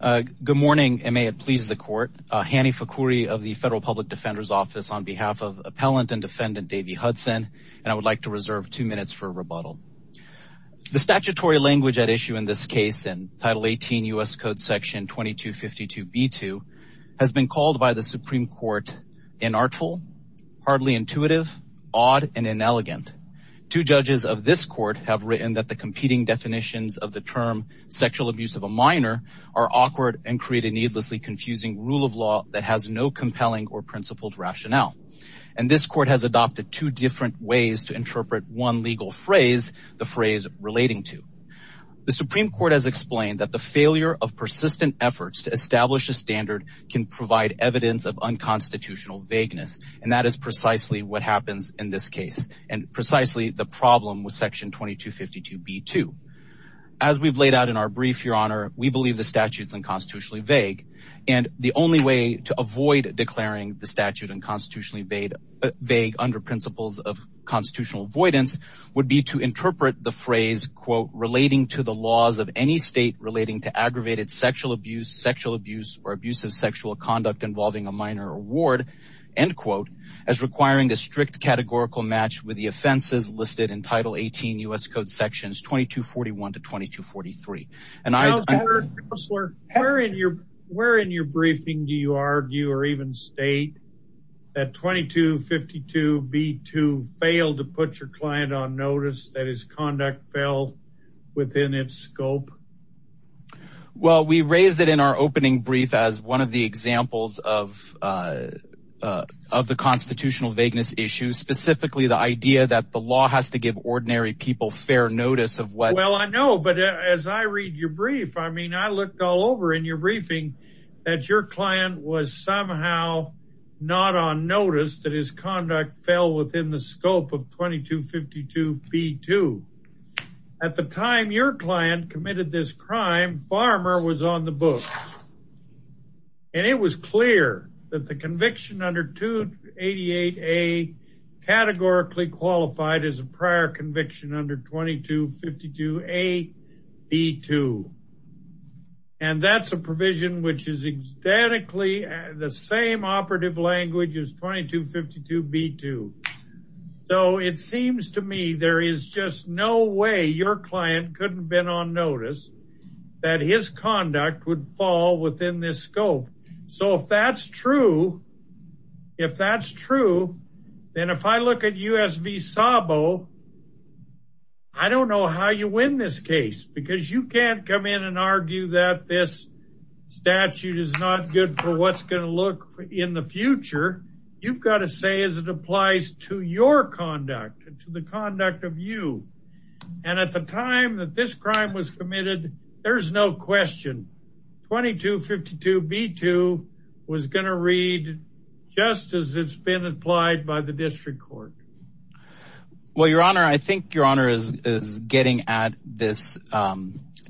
Good morning and may it please the court. Hany Fakhoury of the Federal Public Defender's Office on behalf of Appellant and Defendant Davey Hudson and I would like to reserve two minutes for rebuttal. The statutory language at issue in this case in Title 18 U.S. Code Section 2252b2 has been called by the Supreme Court inartful, hardly intuitive, odd and inelegant. Two judges of this court have the term sexual abuse of a minor are awkward and create a needlessly confusing rule of law that has no compelling or principled rationale and this court has adopted two different ways to interpret one legal phrase, the phrase relating to. The Supreme Court has explained that the failure of persistent efforts to establish a standard can provide evidence of unconstitutional vagueness and that is precisely what happens in this case and precisely the we've laid out in our brief, your honor, we believe the statutes unconstitutionally vague and the only way to avoid declaring the statute unconstitutionally vague under principles of constitutional avoidance would be to interpret the phrase, quote, relating to the laws of any state relating to aggravated sexual abuse, sexual abuse or abusive sexual conduct involving a minor award, end quote, as requiring a strict categorical match with the offenses listed in title 18 U.S. Code sections 2241 to 2243. Counselor, where in your briefing do you argue or even state that 2252b2 failed to put your client on notice, that his conduct fell within its scope? Well, we raised it in our opening brief as one of the examples of the constitutional vagueness issue, specifically the idea that the law has to give ordinary people fair notice of what... Well, I know, but as I read your brief, I mean, I looked all over in your briefing that your client was somehow not on notice that his conduct fell within the scope of 2252b2. At the time your client committed this crime, Farmer was on the book. And it was clear that the conviction under 288a categorically qualified as a prior conviction under 2252a b2. And that's a provision which is ecstatically the same operative language as 2252b2. So it was clear that his conduct would fall within this scope. So if that's true, if that's true, then if I look at U.S. v. Sabo, I don't know how you win this case because you can't come in and argue that this statute is not good for what's going to look in the future. You've got to say as it applies to your conduct and the conduct of you. And at the time that this crime was committed, there's no question 2252b2 was going to read just as it's been applied by the District Court. Well, Your Honor, I think Your Honor is getting at this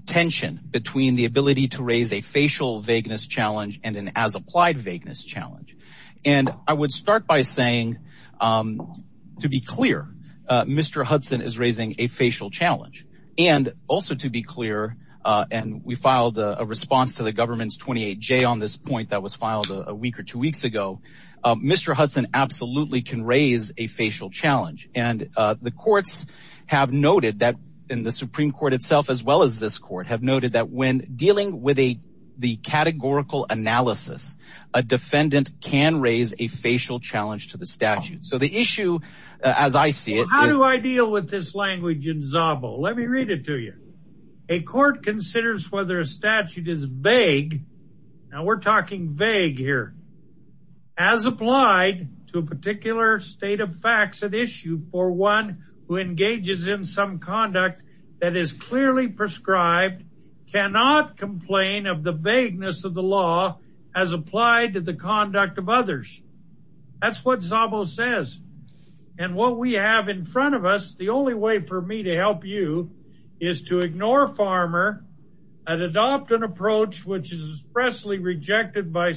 tension between the ability to raise a facial vagueness challenge and an as-applied vagueness challenge. And I would start by saying, to be clear, Mr. Hudson is raising a facial challenge. And also to be clear, and we filed a response to the government's 28j on this point that was filed a week or two weeks ago, Mr. Hudson absolutely can raise a facial challenge. And the courts have noted that in the Supreme Court itself, as well as this court, have noted that when dealing with a the categorical analysis, a defendant can raise a facial challenge to the statute. So the issue, as I see it, how do I deal with this language in Zabo? Let me read it to you. A court considers whether a statute is vague. Now we're talking vague here, as applied to a particular state of facts at issue for one who engages in some conduct that is clearly prescribed, cannot complain of the vagueness of the law as applied to the conduct of others. That's what Zabo says. And what we have in front of us, the only way for me to help you is to ignore Farmer and adopt an approach which is expressly rejected by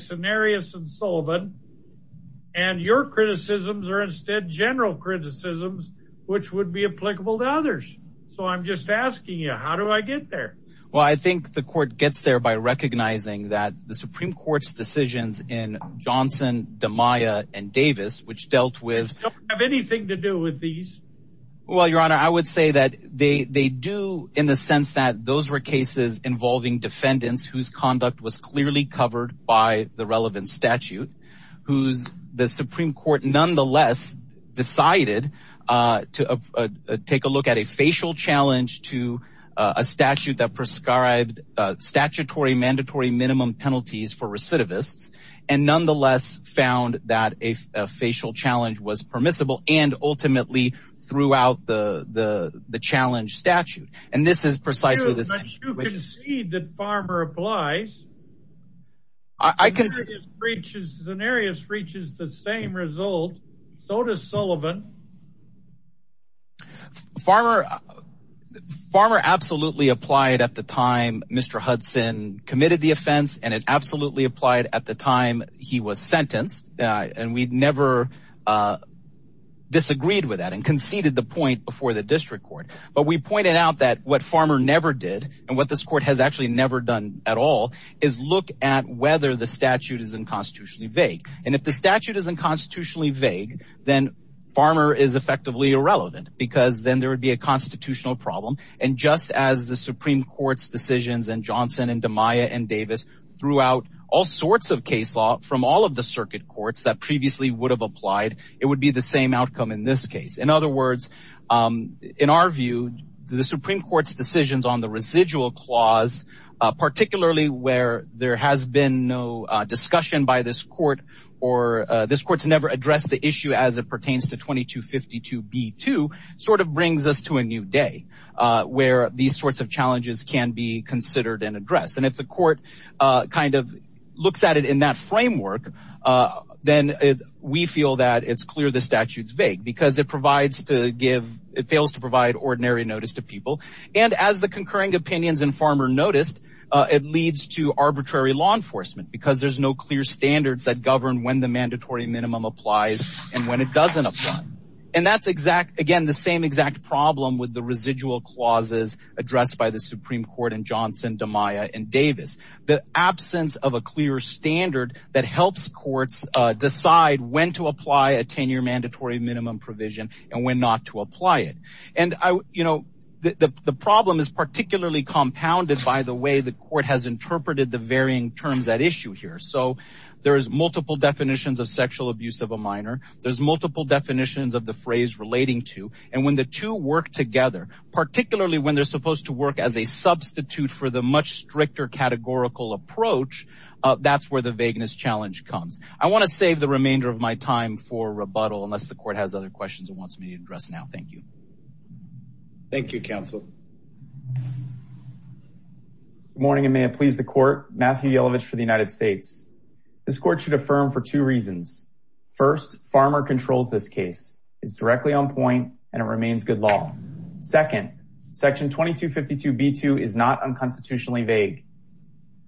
which would be applicable to others. So I'm just asking you, how do I get there? Well, I think the court gets there by recognizing that the Supreme Court's decisions in Johnson, DiMaia and Davis, which dealt with have anything to do with these. Well, Your Honor, I would say that they do in the sense that those were cases involving defendants whose conduct was clearly covered by the to take a look at a facial challenge to a statute that prescribed statutory mandatory minimum penalties for recidivists and nonetheless found that a facial challenge was permissible and ultimately threw out the the challenge statute. And this is precisely this. But you concede that Farmer applies. I can see reaches the same result. So does Sullivan. Farmer Farmer absolutely applied at the time Mr. Hudson committed the offense and it absolutely applied at the time he was sentenced. And we'd never disagreed with that and conceded the point before the district court. But we pointed out that what Farmer never did and what this court has actually never done at all is look at whether the statute is unconstitutionally vague. And if the statute is unconstitutionally vague, then Farmer is effectively irrelevant because then there would be a constitutional problem. And just as the Supreme Court's decisions and Johnson and DiMaia and Davis throughout all sorts of case law from all of the circuit courts that previously would have applied, it would be the same outcome in this case. In other words, in our view, the Supreme Court's decisions on the residual clause, particularly where there has been no discussion by this court or this court's never addressed the issue as it pertains to 2252 B2 sort of brings us to a new day where these sorts of challenges can be considered and addressed. And if the court kind of looks at it in that framework, then we feel that it's clear the statute's vague because it provides to give it fails to provide ordinary notice to people. And as the concurring opinions and Farmer noticed, it leads to arbitrary law enforcement because there's no clear standards that govern when the mandatory minimum applies and when it doesn't apply. And that's exact again, the same exact problem with the residual clauses addressed by the Supreme Court and Johnson, DiMaia and Davis. The absence of a clear standard that helps courts decide when to apply a 10 year mandatory minimum provision and when not to apply it. And I, you know, the problem is particularly compounded by the way the court has interpreted the varying terms that issue here. So there is multiple definitions of sexual abuse of a minor. There's multiple definitions of the phrase relating to and when the two work together, particularly when they're supposed to work as a substitute for the much stricter categorical approach. That's where the vagueness challenge comes. I want to save the remainder of my time for rebuttal unless the court has other questions and wants me to address now. Thank you. Thank you, counsel. Good morning and may it please the court. Matthew Yellovich for the United States. This court should affirm for two reasons. First, Farmer controls this case. It's directly on point and it remains good law. Second, section 2252B2 is not unconstitutionally vague.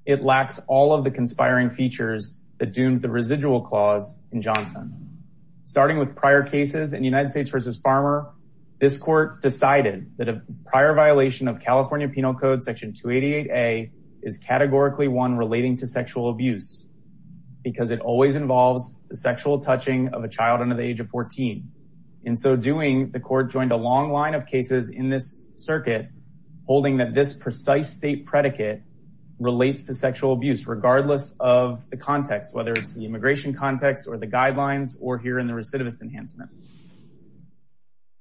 It lacks all of the conspiring features that doomed the residual clause in Johnson. Starting with prior cases in the United States versus Farmer, this court decided that a prior violation of California Penal Code section 288A is categorically one relating to sexual abuse because it always involves the sexual touching of a child under the age of 14. In so doing, the court joined a long line of cases in this circuit holding that this precise state predicate relates to sexual abuse regardless of the context, whether it's the immigration context or the guidelines or here in the recidivist enhancement.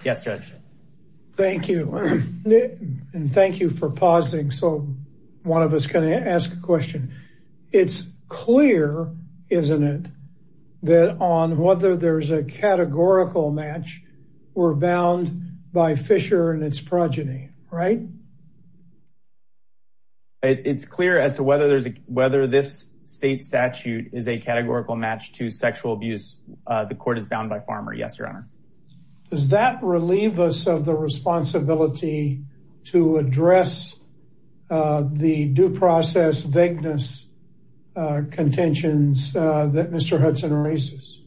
Yes, Judge. Thank you. And thank you for pausing. So one of us can ask a question. It's clear, isn't it, that on whether there's a categorical match, we're bound by Fisher and its progeny, right? It's clear as to whether this state statute is a categorical match to sexual abuse. The court is bound by Farmer. Yes, Your Honor. Does that relieve us of the responsibility to address the due process vagueness contentions that Mr. Hudson raises?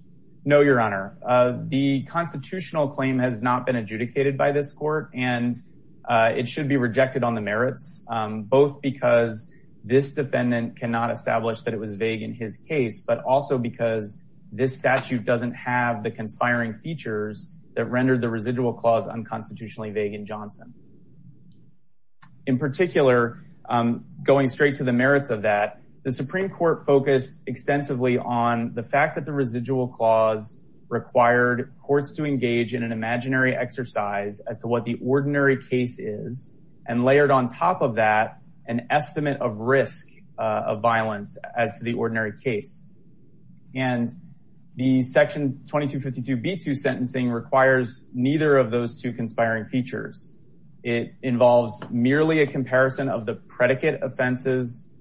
No, Your Honor. The constitutional claim has not been adjudicated by this court, and it should be rejected on the merits, both because this defendant cannot establish that it was vague in his case, but also because this statute doesn't have the conspiring features that rendered the residual clause unconstitutionally vague in Johnson. In particular, going straight to the merits of that, the Supreme Court focused extensively on the fact that the residual clause required courts to engage in an imaginary exercise as to what the ordinary case is, and as to the ordinary case. And the Section 2252b2 sentencing requires neither of those two conspiring features. It involves merely a comparison of the predicate offenses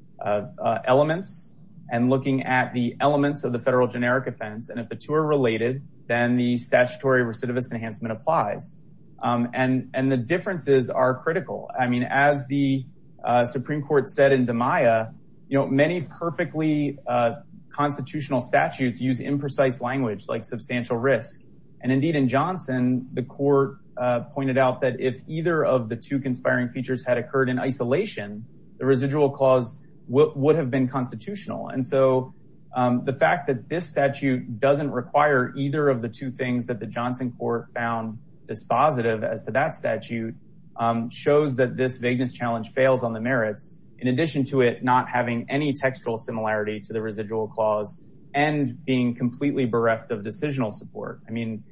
elements and looking at the elements of the federal generic offense. And if the two are related, then the statutory recidivist enhancement applies. And the differences are critical. I mean, as the Supreme Court said in DiMaia, you know, many perfectly constitutional statutes use imprecise language like substantial risk. And indeed, in Johnson, the court pointed out that if either of the two conspiring features had occurred in isolation, the residual clause would have been constitutional. And so the fact that this statute doesn't require either of the two things that the Johnson court found dispositive as to that statute shows that this vagueness challenge fails on the merits, in addition to it not having any textual similarity to the residual clause, and being completely bereft of decisional support. I mean,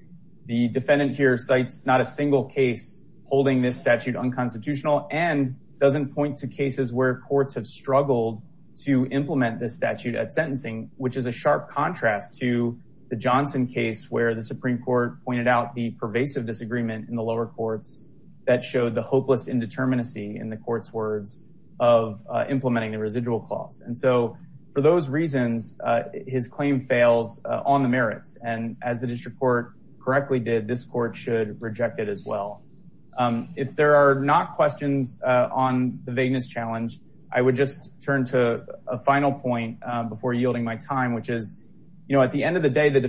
the defendant here cites not a single case holding this statute unconstitutional and doesn't point to cases where courts have struggled to implement this statute at sentencing, which is a sharp contrast to the Johnson case where the Supreme Court pointed out the pervasive disagreement in the lower courts that showed the hopeless indeterminacy in the court's words of implementing the residual clause. And so for those reasons, his claim fails on the merits. And as the district court correctly did, this court should reject it as well. If there are not questions on the vagueness challenge, I would just turn to a final point before yielding my time, which is, you know, at the end of the day, the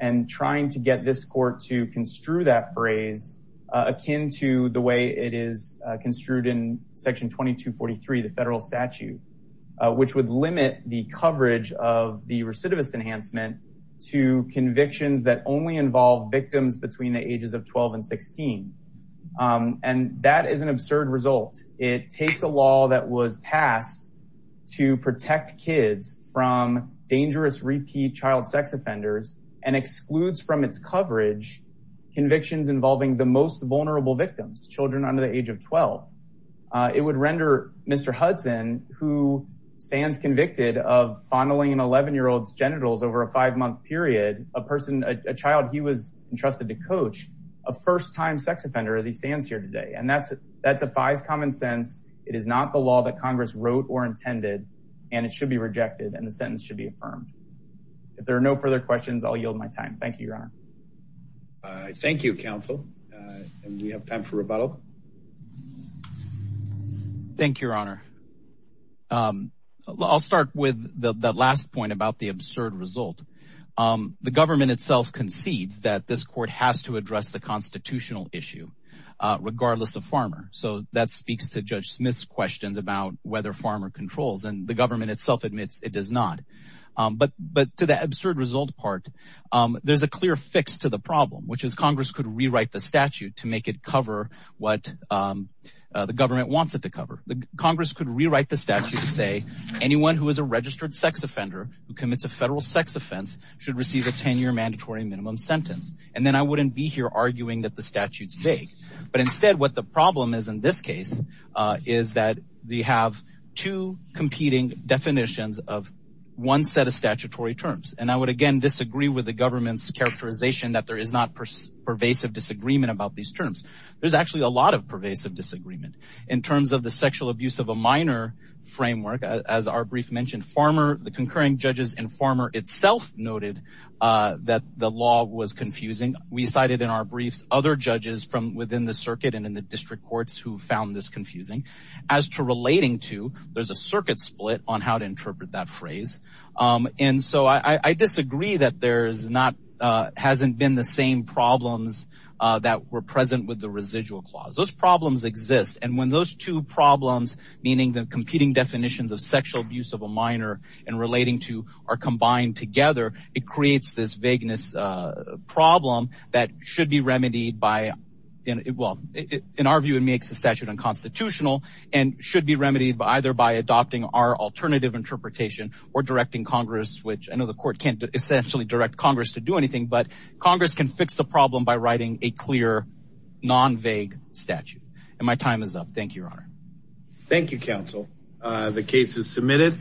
and trying to get this court to construe that phrase, akin to the way it is construed in section 2243, the federal statute, which would limit the coverage of the recidivist enhancement to convictions that only involve victims between the ages of 12 and 16. And that is an absurd result. It takes a law that was passed to protect kids from dangerous repeat child sex offenders and excludes from its coverage convictions involving the most vulnerable victims, children under the age of 12. It would render Mr. Hudson, who stands convicted of fondling an 11-year-old's genitals over a five-month period, a person, a child he was entrusted to coach, a first-time sex offender as he stands here today. And that defies common sense. It is not the law that Congress wrote or intended, and it should be rejected and the sentence should be affirmed. If there are no further questions, I'll yield my time. Thank you, Your Honor. Thank you, counsel. And we have time for rebuttal. Thank you, Your Honor. I'll start with the last point about the absurd result. The government itself concedes that this court has to address the constitutional issue, regardless of farmer. So that speaks to Judge Smith's questions about whether farmer controls, and the government itself admits it does not. But to the absurd result part, there's a clear fix to the problem, which is Congress could rewrite the statute to make it cover what the government wants it to cover. Congress could rewrite the statute to say anyone who is a registered sex offender who commits a federal sex offense should receive a 10-year mandatory minimum sentence. And then I wouldn't be here arguing that the statute's vague. But instead, what the problem is in this case is that we have two competing definitions of one set of statutory terms. And I would, again, disagree with the government's characterization that there is not pervasive disagreement about these terms. There's actually a lot of pervasive disagreement. In terms of the sexual abuse of a minor framework, as our brief mentioned, the concurring judges and farmer itself noted that the law was from within the circuit and in the district courts who found this confusing. As to relating to, there's a circuit split on how to interpret that phrase. And so I disagree that there's not, hasn't been the same problems that were present with the residual clause. Those problems exist. And when those two problems, meaning the competing definitions of sexual abuse of a minor and relating to are combined together, it creates this vagueness problem that should be remedied by, well, in our view, it makes the statute unconstitutional and should be remedied by either by adopting our alternative interpretation or directing Congress, which I know the court can't essentially direct Congress to do anything, but Congress can fix the problem by writing a clear, non-vague statute. And my time is up. Thank you, Your Honor. Thank you, counsel. The case is submitted.